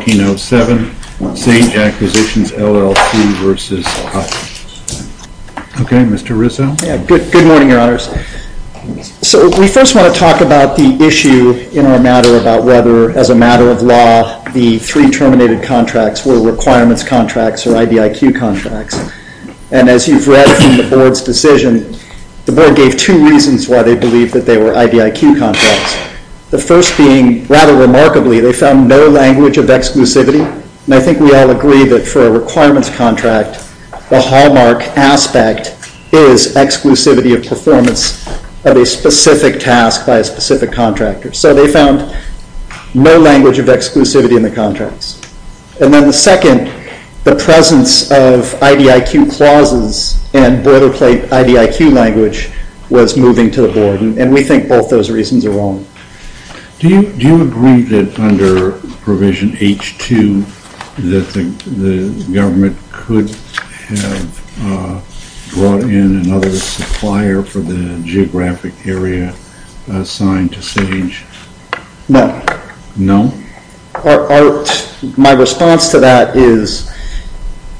Okay, Mr. Rizzo. Yeah, good morning, your honors. So we first want to talk about the issue in our matter about whether, as a matter of law, the three terminated contracts were requirements contracts or IDIQ contracts. And as you've read from the board's decision, the board gave two reasons why they believed that they were IDIQ contracts. The first being, rather remarkably, they found no language of exclusivity. And I think we all agree that for a requirements contract, the hallmark aspect is exclusivity of performance of a specific task by a specific contractor. So they found no language of exclusivity in the contracts. And then the second, the presence of IDIQ clauses and boilerplate IDIQ language was moving to the board, and we think both those reasons are wrong. Do you agree that under Provision H-2 that the government could have brought in another supplier for the geographic area assigned to SAGE? No. My response to that is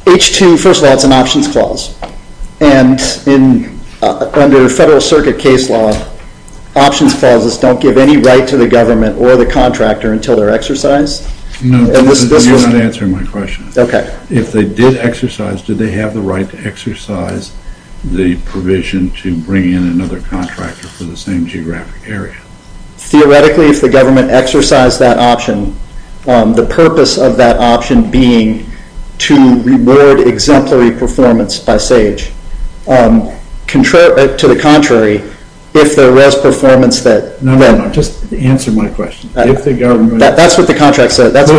H-2, first of all, it's an options clause. And under Federal Circuit case law, options clauses don't give any right to the government or the contractor until they're exercised? No, you're not answering my question. Okay. If they did exercise, do they have the right to exercise the provision to bring in another contractor for the same geographic area? Theoretically, if the government exercised that option, the purpose of that option being to reward exemplary performance by SAGE. To the contrary, if there was performance that... No, no, no, just answer my question. If the government... That's what the contract says. That's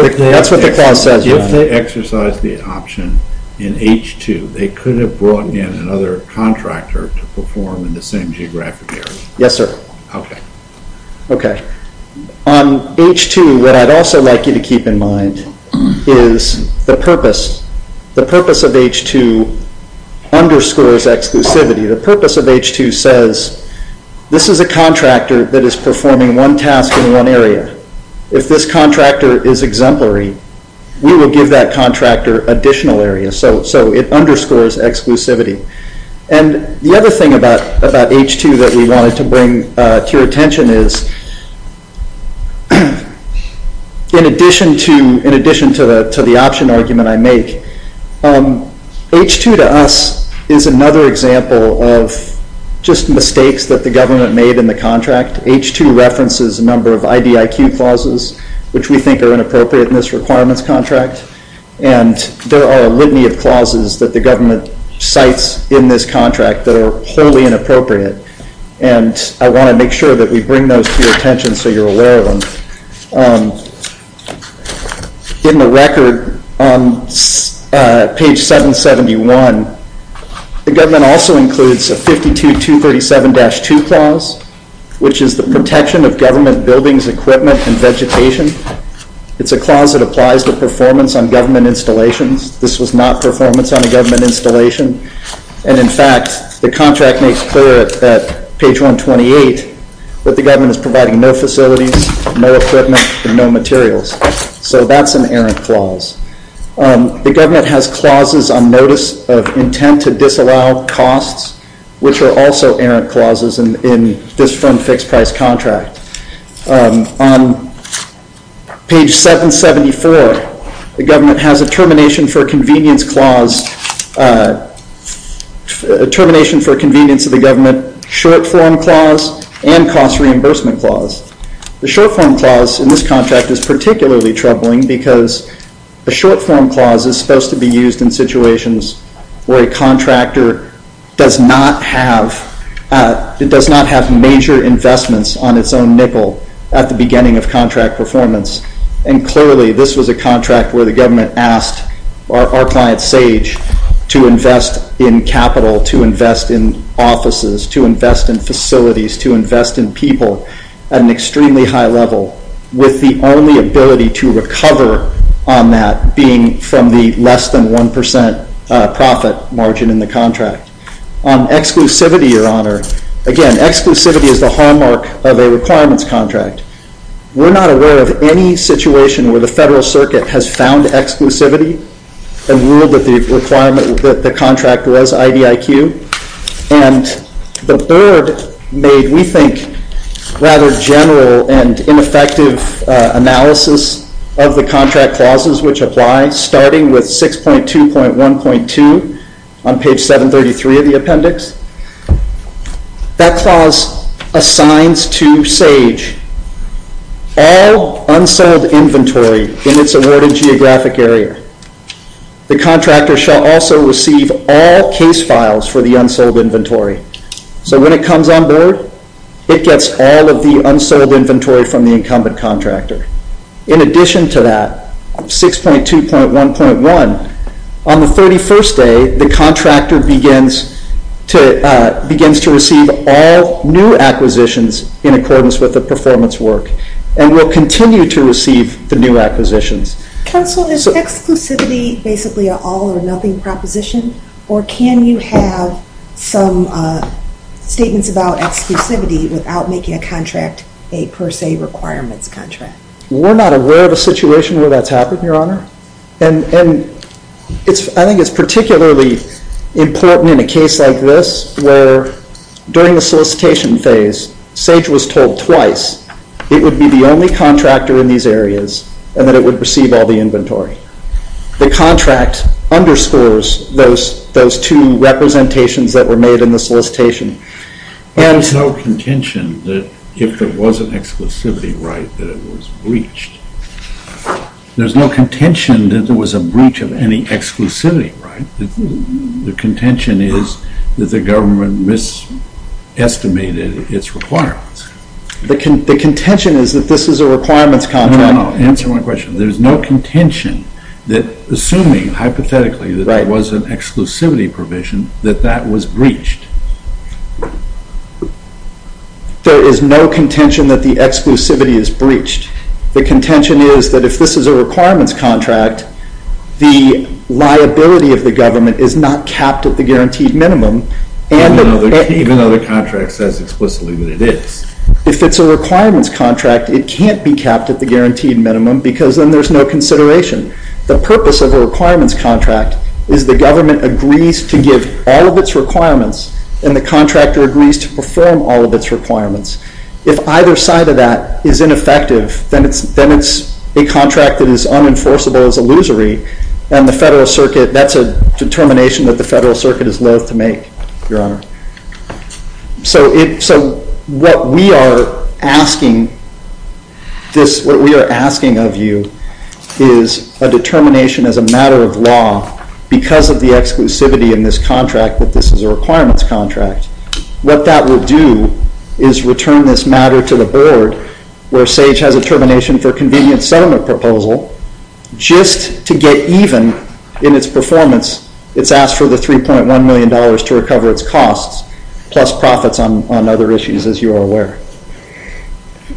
what the clause says. If they exercised the option in H-2, they could have brought in another contractor to perform in the same geographic area. Yes, sir. Okay. Okay. On H-2, what I'd also like you to keep in mind is the purpose. The purpose of H-2 underscores exclusivity. The purpose of H-2 says, this is a contractor that is performing one task in one area. If this contractor is exemplary, we will give that contractor additional area. So it underscores exclusivity. And the other thing about H-2 that we wanted to bring to your attention is, in addition to the option argument I make, H-2 to us is another example of just mistakes that the government made in the contract. H-2 references a number of IDIQ clauses, which we think are inappropriate in this requirements contract. And there are a litany of clauses that the government cites in this contract that are wholly inappropriate. And I want to make sure that we bring those to your attention so you're aware of them. So H-2, given the record on page 771, the government also includes a 52237-2 clause, which is the protection of government buildings, equipment, and vegetation. It's a clause that applies to performance on government installations. This was not performance on a government installation. And in fact, the contract makes clear at page 128 that the government is providing no facilities, no equipment, and no facilities. And no materials. So that's an errant clause. The government has clauses on notice of intent to disallow costs, which are also errant clauses in this fund-fixed-price contract. On page 774, the government has a termination for convenience clause, a termination for convenience of the government short-form clause and cost-reimbursement clause. The short-form clause in this contract is particularly troubling because the short-form clause is supposed to be used in situations where a contractor does not have major investments on its own nickel at the beginning of contract performance. And clearly, this was a contract where the government asked our client SAGE to invest in capital, to invest in offices, to invest in facilities, to invest in people at an extremely high level with the only ability to recover on that being from the less than 1% profit margin in the contract. On exclusivity, Your Honor, again, exclusivity is the hallmark of a requirements contract. We're not aware of any situation where the Federal Circuit has found exclusivity and ruled that the requirement, that the contract was IDIQ. And the Board made, we think, rather general and ineffective analysis of the contract clauses which apply, starting with 6.2.1.2 on page 733 of the appendix. That clause assigns to SAGE all unsold inventory in its awarded geographic area. The contractor shall also receive all case files for the unsold inventory. So when it comes on board, it gets all of the unsold inventory from the incumbent contractor. In addition to that, 6.2.1.1, on the 31st day, the contractor begins to receive all new acquisitions in accordance with the performance work and will continue to receive the new acquisitions. Counsel, is exclusivity basically an all or nothing proposition? Or can you have some statements about exclusivity without making a contract a per se requirements contract? We're not aware of a situation where that's happened, Your Honor. And I think it's particularly important in a case like this where during the solicitation phase, SAGE was told twice it would be the only contractor in these areas and that it would receive all the inventory. The contract underscores those two representations that were made in the solicitation. There's no contention that if there was an exclusivity right that it was breached. There's no contention that there was a breach of any exclusivity right. The contention is that the government mis-estimated its requirements. The contention is that this is a requirements contract. Answer my question. There's no contention that, assuming hypothetically that it was an exclusivity provision, that that was breached. There is no contention that the exclusivity is breached. The contention is that if this is a requirements contract, the liability of the government is not capped at the guaranteed minimum. Even though the contract says explicitly that it is. If it's a requirements contract, it can't be capped at the guaranteed minimum because then there's no consideration. The purpose of a requirements contract is the government agrees to give all of its requirements and the contractor agrees to perform all of its requirements. If either side of that is ineffective, then it's a contract that is unenforceable as illusory and that's a determination that the Federal Circuit is loathe to make, Your Honor. So what we are asking of you is a determination as a matter of law because of the exclusivity in this contract that this is a requirements contract. What that will do is return this matter to the Board where SAGE has a determination for convenient settlement proposal just to get even in its performance. It's asked for the $3.1 million to recover its costs plus profits on other issues as you are aware.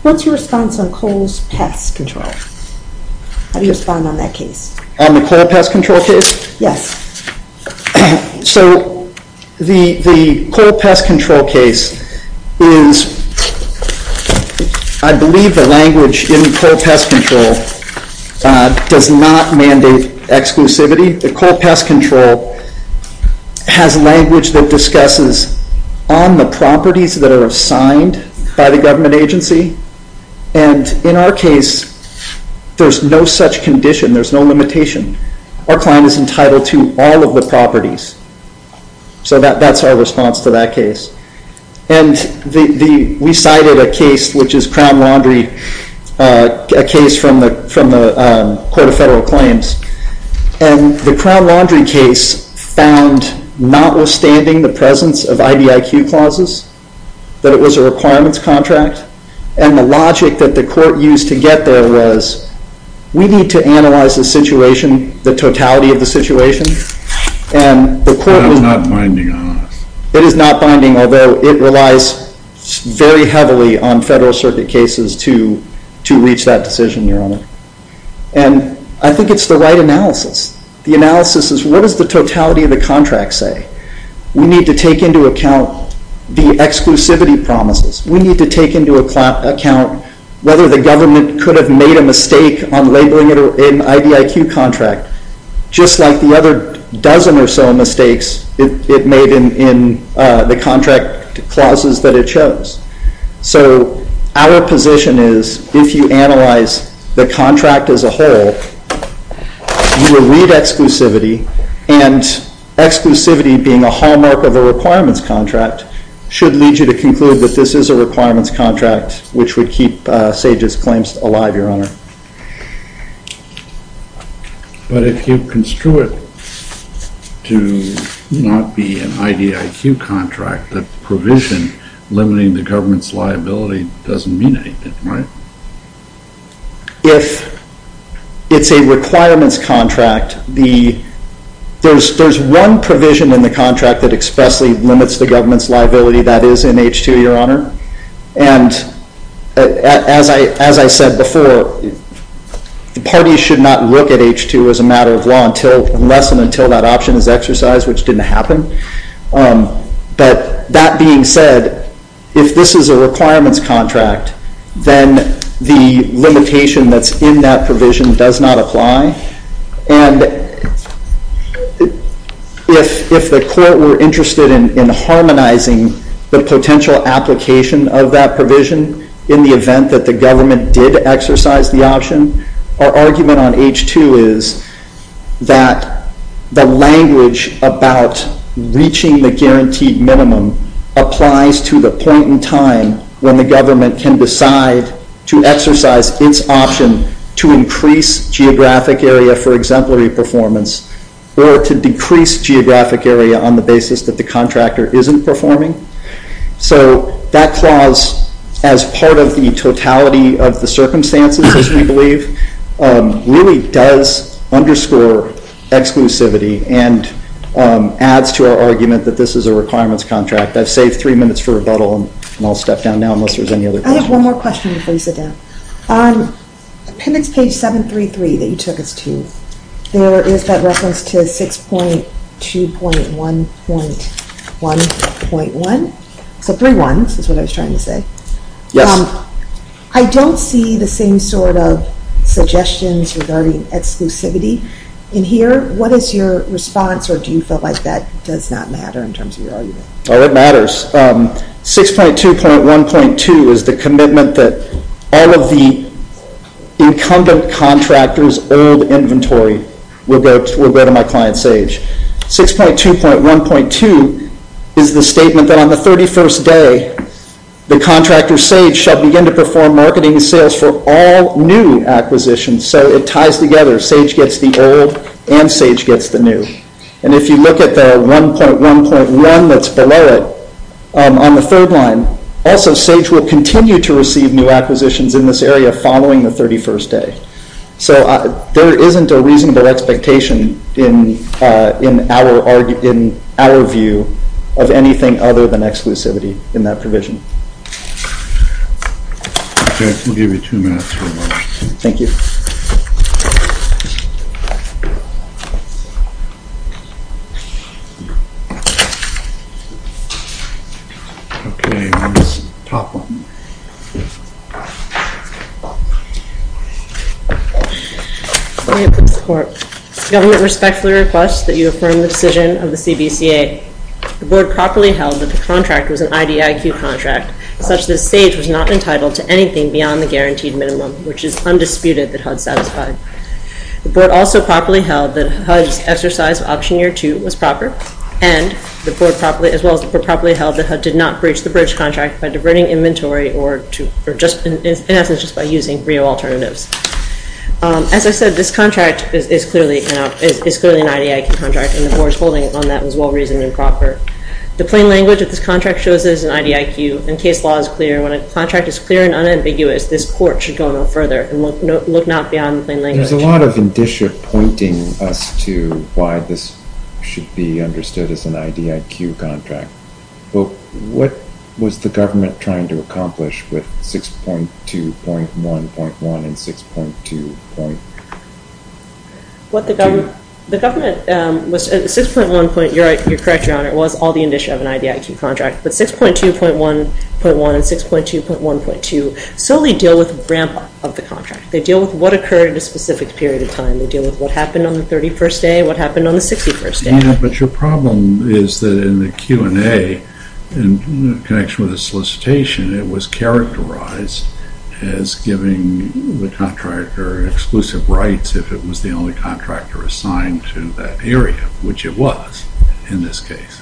What's your response on coal's pest control? How do you respond on that case? On the coal pest control case? Yes. So the coal pest control case is, I believe the language in coal pest control does not mandate exclusivity. The coal pest control has language that discusses on the properties that are assigned by the government agency and in our case, there's no such condition. There's no limitation. Our client is entitled to all of the properties. So that's our response to that case. And we cited a case which is Crown Laundry, a case from the Court of Federal Claims and the Crown Laundry case found notwithstanding the presence of IDIQ clauses that it was a requirements contract and the logic that the court used to get there was we need to analyze the situation, the totality of the situation. It's not binding on us. It is not binding although it relies very heavily on Federal Circuit cases to reach that decision, Your Honor. And I think it's the right analysis. The analysis is what does the totality of the contract say? We need to take into account the exclusivity promises. We need to take into account whether the government could have made a mistake on labeling it an IDIQ contract just like the other dozen or so mistakes it made in the contract clauses that it chose. So our position is if you analyze the contract as a whole, you will read exclusivity. And exclusivity being a hallmark of a requirements contract should lead you to conclude that this is a requirements contract which would keep Sage's claims alive, Your Honor. But if you construe it to not be an IDIQ contract, the provision limiting the government's liability doesn't mean anything, right? If it's a requirements contract, there's one provision in the contract that expressly limits the government's liability. That is NH2, Your Honor. And as I said before, the parties should not look at H2 as a matter of law unless and until that option is exercised, which didn't happen. But that being said, if this is a requirements contract, then the limitation that's in that provision does not apply. And if the court were interested in harmonizing the potential application of that provision in the event that the government did exercise the option, our argument on H2 is that the language about reaching the guaranteed minimum applies to the point in time when the government can decide to exercise its option to increase geographic area for exemplary performance or to decrease geographic area on the basis that the contractor isn't performing. So that clause, as part of the totality of the circumstances, as we believe, really does underscore exclusivity and adds to our argument that this is a requirements contract. I've saved three minutes for rebuttal, and I'll step down now unless there's any other questions. I have one more question before you sit down. On appendix page 733 that you took us to, there is that reference to 6.2.1.1.1. So three ones is what I was trying to say. Yes. I don't see the same sort of suggestions regarding exclusivity in here. What is your response, or do you feel like that does not matter in terms of your argument? Oh, it matters. 6.2.1.2 is the commitment that all of the incumbent contractors' old inventory will go to my client Sage. 6.2.1.2 is the statement that on the 31st day, the contractor Sage shall begin to perform marketing sales for all new acquisitions. So it ties together. Sage gets the old, and Sage gets the new. And if you look at the 1.1.1 that's below it on the third line, also Sage will continue to receive new acquisitions in this area following the 31st day. So there isn't a reasonable expectation in our view of anything other than exclusivity in that provision. Okay. We'll give you two minutes for rebuttal. Thank you. Okay. Okay. Top one. Government respectfully requests that you affirm the decision of the CBCA. The Board properly held that the contract was an IDIQ contract, such that Sage was not entitled to anything beyond the guaranteed minimum, which is undisputed that HUD satisfied. The Board also properly held that HUD's exercise of option year two was proper. And the Board as well as the Board properly held that HUD did not breach the bridge contract by diverting inventory or in essence just by using Brio alternatives. As I said, this contract is clearly an IDIQ contract, and the Board's holding on that was well-reasoned and proper. The plain language of this contract shows it is an IDIQ, and case law is clear. When a contract is clear and unambiguous, this court should go no further and look not beyond the plain language. There's a lot of indicia pointing us to why this should be understood as an IDIQ contract. But what was the government trying to accomplish with 6.2.1.1 and 6.2.2? The government was 6.1 point, you're correct, Your Honor, it was all the indicia of an IDIQ contract. But 6.2.1.1 and 6.2.1.2 solely deal with ramp up of the contract. They deal with what occurred in a specific period of time. They deal with what happened on the 31st day, what happened on the 61st day. But your problem is that in the Q&A, in connection with the solicitation, it was characterized as giving the contractor exclusive rights if it was the only contractor assigned to that area, which it was in this case.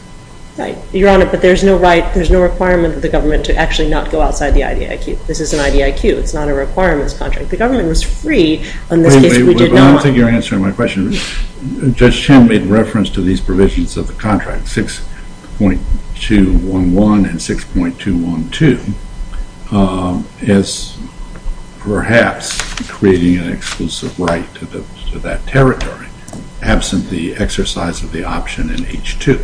Right. Your Honor, but there's no requirement for the government to actually not go outside the IDIQ. This is an IDIQ. It's not a requirements contract. The government was free on this case. I don't think you're answering my question. Judge Chen made reference to these provisions of the contract, 6.2.1.1 and 6.2.1.2, as perhaps creating an exclusive right to that territory, absent the exercise of the option in H.2.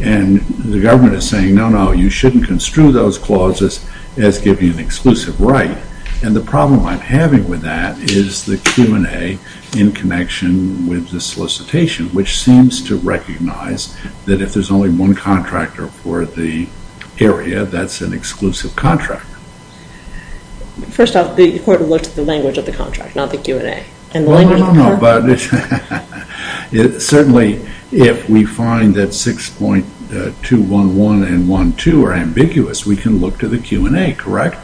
And the government is saying, no, no, you shouldn't construe those clauses as giving an exclusive right. And the problem I'm having with that is the Q&A in connection with the solicitation, which seems to recognize that if there's only one contractor for the area, that's an exclusive contract. First off, the court looked at the language of the contract, not the Q&A. No, no, no, no, but certainly if we find that 6.2.1.1 and 6.2.1.2 are ambiguous, we can look to the Q&A, correct?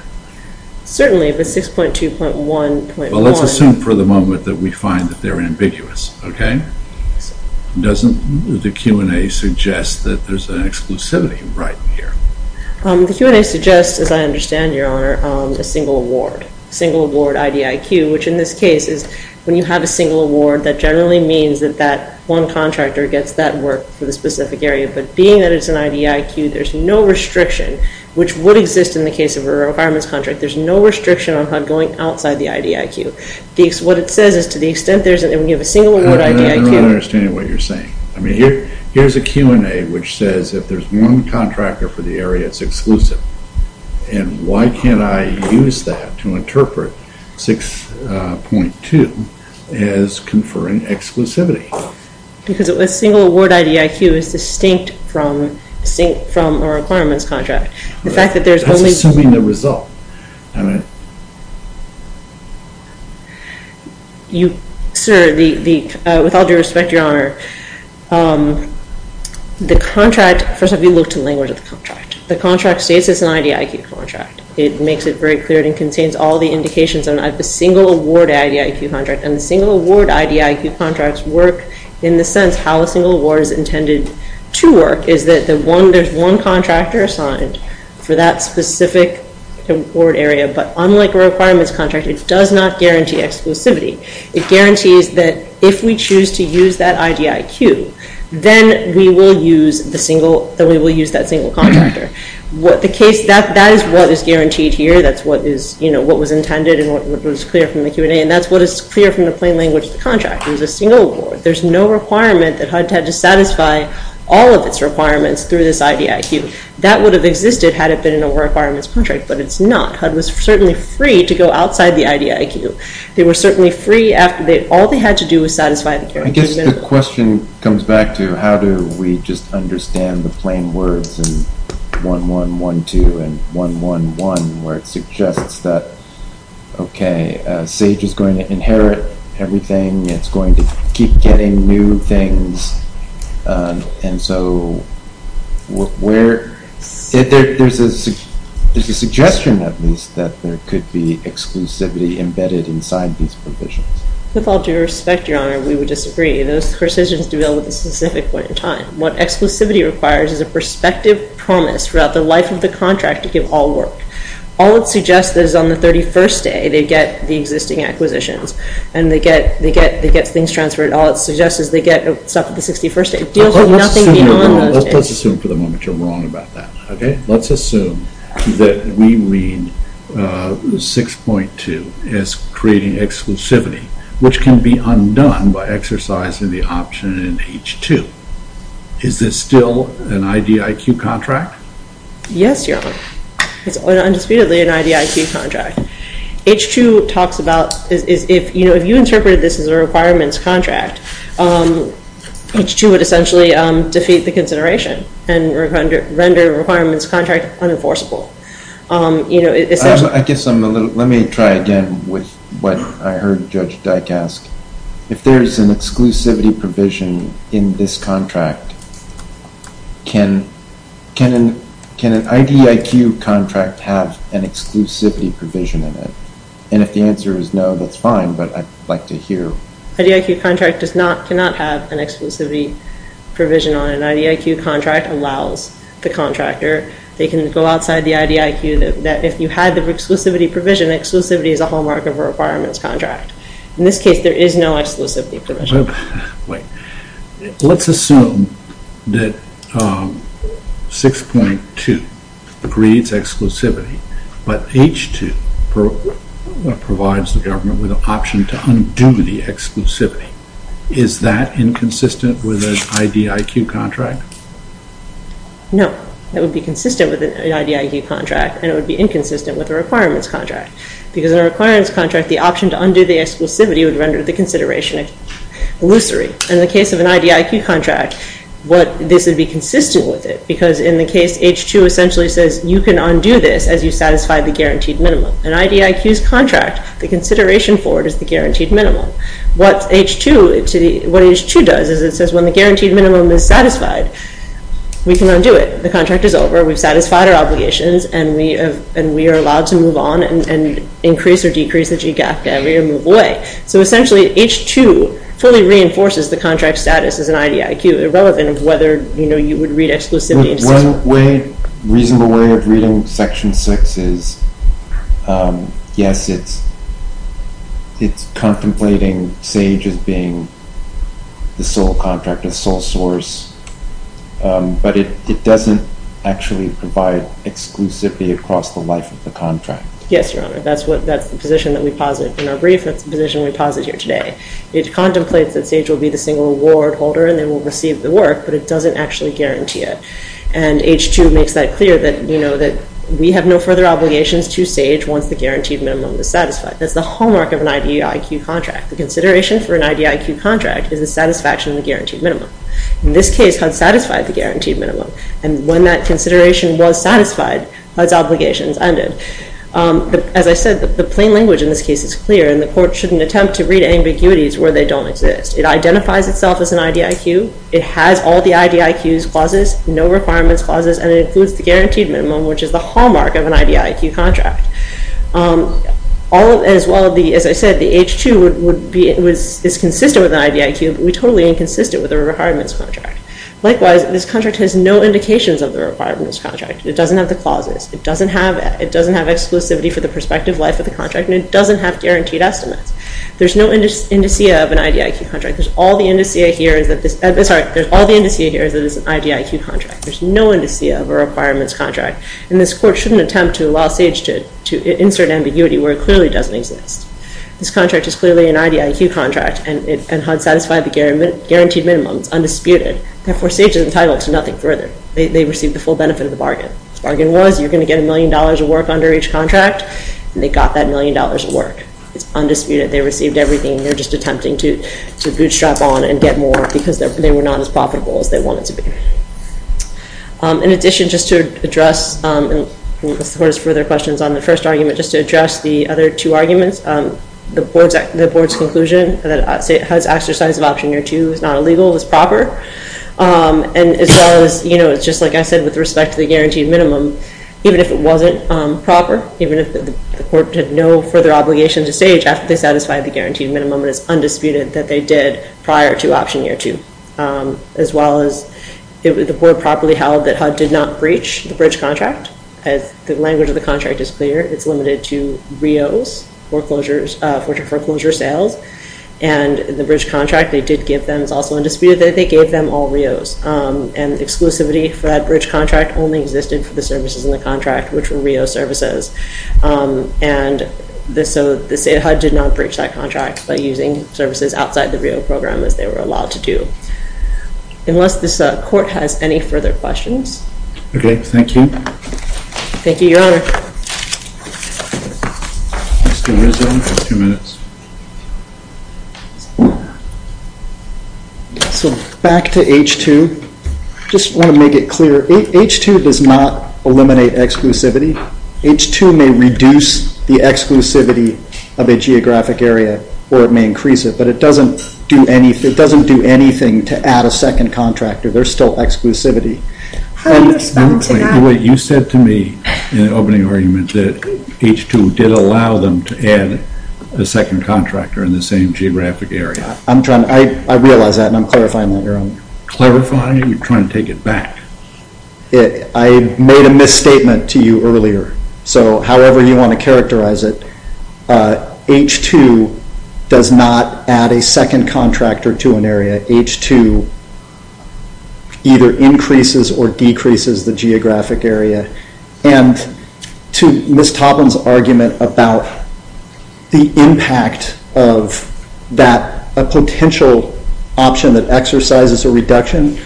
Certainly, but 6.2.1.1… Well, let's assume for the moment that we find that they're ambiguous, okay? Doesn't the Q&A suggest that there's an exclusivity right here? The Q&A suggests, as I understand, Your Honor, a single award, single award IDIQ, which in this case is when you have a single award, that generally means that that one contractor gets that work for the specific area. But being that it's an IDIQ, there's no restriction, which would exist in the case of a requirements contract. There's no restriction on going outside the IDIQ. What it says is to the extent there's a single award IDIQ… I don't understand what you're saying. I mean, here's a Q&A which says if there's one contractor for the area, it's exclusive. And why can't I use that to interpret 6.2 as conferring exclusivity? Because a single award IDIQ is distinct from a requirements contract. The fact that there's only… That's assuming the result. Sir, with all due respect, Your Honor, the contract… First, let me look to the language of the contract. The contract states it's an IDIQ contract. It makes it very clear. It contains all the indications of a single award IDIQ contract. And the single award IDIQ contracts work in the sense how a single award is intended to work, is that there's one contractor assigned for that specific award area. But unlike a requirements contract, it does not guarantee exclusivity. It guarantees that if we choose to use that IDIQ, then we will use that single contractor. That is what is guaranteed here. That's what was intended and what was clear from the Q&A. And that's what is clear from the plain language of the contract. It was a single award. There's no requirement that HUD had to satisfy all of its requirements through this IDIQ. That would have existed had it been a requirements contract. But it's not. HUD was certainly free to go outside the IDIQ. They were certainly free. All they had to do was satisfy the guarantees. I guess the question comes back to how do we just understand the plain words and 1-1-1-2 and 1-1-1, where it suggests that, okay, SAGE is going to inherit everything. It's going to keep getting new things. And so, there's a suggestion, at least, that there could be exclusivity embedded inside these provisions. With all due respect, Your Honor, we would disagree. Those provisions do deal with a specific point in time. What exclusivity requires is a prospective promise throughout the life of the contract to give all work. All it suggests is on the 31st day they get the existing acquisitions and they get things transferred. All it suggests is they get stuff on the 61st day. It deals with nothing beyond those days. Let's assume for the moment you're wrong about that, okay? Let's assume that we read 6.2 as creating exclusivity, which can be undone by exercising the option in H2. Is this still an IDIQ contract? Yes, Your Honor. It's undisputedly an IDIQ contract. H2 talks about, if you interpreted this as a requirements contract, H2 would essentially defeat the consideration and render a requirements contract unenforceable. I guess I'm a little, let me try again with what I heard Judge Dyck ask. If there's an exclusivity provision in this contract, can an IDIQ contract have an exclusivity provision in it? And if the answer is no, that's fine, but I'd like to hear. IDIQ contract cannot have an exclusivity provision on it. An IDIQ contract allows the contractor, they can go outside the IDIQ, that if you had the exclusivity provision, exclusivity is a hallmark of a requirements contract. In this case, there is no exclusivity provision. Wait. Let's assume that 6.2 creates exclusivity, but H2 provides the government with an option to undo the exclusivity. Is that inconsistent with an IDIQ contract? No. That would be consistent with an IDIQ contract and it would be inconsistent with a requirements contract because in a requirements contract, the option to undo the exclusivity would render the consideration illusory. In the case of an IDIQ contract, this would be consistent with it because in the case H2 essentially says you can undo this as you satisfy the guaranteed minimum. An IDIQ's contract, the consideration for it is the guaranteed minimum. What H2 does is it says when the guaranteed minimum is satisfied, we can undo it. The contract is over, we've satisfied our obligations, and we are allowed to move on and increase or decrease the G gap and move away. So essentially H2 fully reinforces the contract status as an IDIQ, irrelevant of whether you would read exclusivity. One reasonable way of reading Section 6 is, yes, it's contemplating SAGE as being the sole contract, the sole source, but it doesn't actually provide exclusivity across the life of the contract. Yes, Your Honor. That's the position that we posit in our brief. That's the position we posit here today. It contemplates that SAGE will be the single award holder and they will receive the work, but it doesn't actually guarantee it. And H2 makes that clear that we have no further obligations to SAGE once the guaranteed minimum is satisfied. That's the hallmark of an IDIQ contract. The consideration for an IDIQ contract is the satisfaction of the guaranteed minimum. In this case, HUD satisfied the guaranteed minimum, and when that consideration was satisfied, HUD's obligations ended. But as I said, the plain language in this case is clear, and the court shouldn't attempt to read ambiguities where they don't exist. It identifies itself as an IDIQ. It has all the IDIQ's clauses, no requirements clauses, and it includes the guaranteed minimum, which is the hallmark of an IDIQ contract. As I said, the H2 is consistent with an IDIQ, but we're totally inconsistent with a requirements contract. Likewise, this contract has no indications of the requirements contract. It doesn't have the clauses. It doesn't have exclusivity for the prospective life of the contract, and it doesn't have guaranteed estimates. There's no indicea of an IDIQ contract. There's all the indicea here is that it's an IDIQ contract. There's no indicea of a requirements contract, and this court shouldn't attempt to allow SAGE to insert ambiguity where it clearly doesn't exist. This contract is clearly an IDIQ contract, and HUD satisfied the guaranteed minimum. It's undisputed. Therefore, SAGE is entitled to nothing further. They received the full benefit of the bargain. The bargain was you're going to get a million dollars of work under each contract, and they got that million dollars of work. It's undisputed. They received everything. They're just attempting to bootstrap on and get more because they were not as profitable as they wanted to be. In addition, just to address, as far as further questions on the first argument, just to address the other two arguments, the board's conclusion that HUD's exercise of Option Year 2 was not illegal, was proper, and as far as just like I said with respect to the guaranteed minimum, even if it wasn't proper, even if the court had no further obligation to SAGE after they satisfied the guaranteed minimum, it is undisputed that they did prior to Option Year 2, as well as the board properly held that HUD did not breach the bridge contract. The language of the contract is clear. It's limited to RIOs, foreclosure sales, and the bridge contract they did give them. It's also undisputed that they gave them all RIOs, and exclusivity for that bridge contract only existed for the services in the contract, which were RIO services. So HUD did not breach that contract by using services outside the RIO program as they were allowed to do. Unless this court has any further questions. Okay, thank you. Thank you, Your Honor. So back to H2. I just want to make it clear, H2 does not eliminate exclusivity. H2 may reduce the exclusivity of a geographic area, or it may increase it, but it doesn't do anything to add a second contractor. There's still exclusivity. You said to me in the opening argument that H2 did allow them to add a second contractor in the same geographic area. I realize that, and I'm clarifying that, Your Honor. Clarifying? You're trying to take it back. I made a misstatement to you earlier. So however you want to characterize it, H2 does not add a second contractor to an area. H2 either increases or decreases the geographic area. And to Ms. Toplin's argument about the impact of that potential option that exercises a reduction,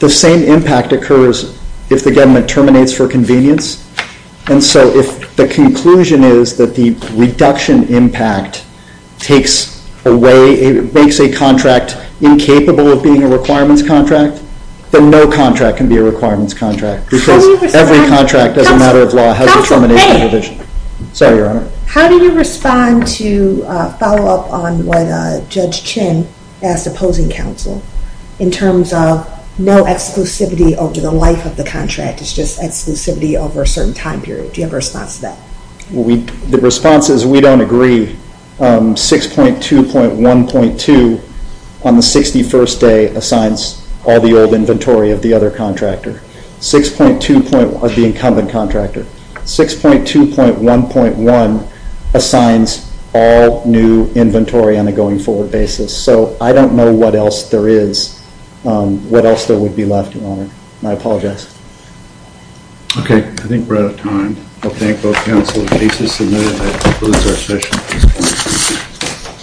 the same impact occurs if the government terminates for convenience. And so if the conclusion is that the reduction impact makes a contract incapable of being a requirements contract, then no contract can be a requirements contract because every contract as a matter of law has a termination provision. Sorry, Your Honor. How do you respond to a follow-up on what Judge Chin asked opposing counsel in terms of no exclusivity over the life of the contract? It's just exclusivity over a certain time period. Do you have a response to that? The response is we don't agree. 6.2.1.2 on the 61st day assigns all the old inventory of the other contractor. 6.2.1 of the incumbent contractor. 6.2.1.1 assigns all new inventory on a going forward basis. So I don't know what else there is, what else there would be left, Your Honor. I apologize. Okay. I think we're out of time. I'll thank both counsel. The case is submitted. That concludes our session. Thank you.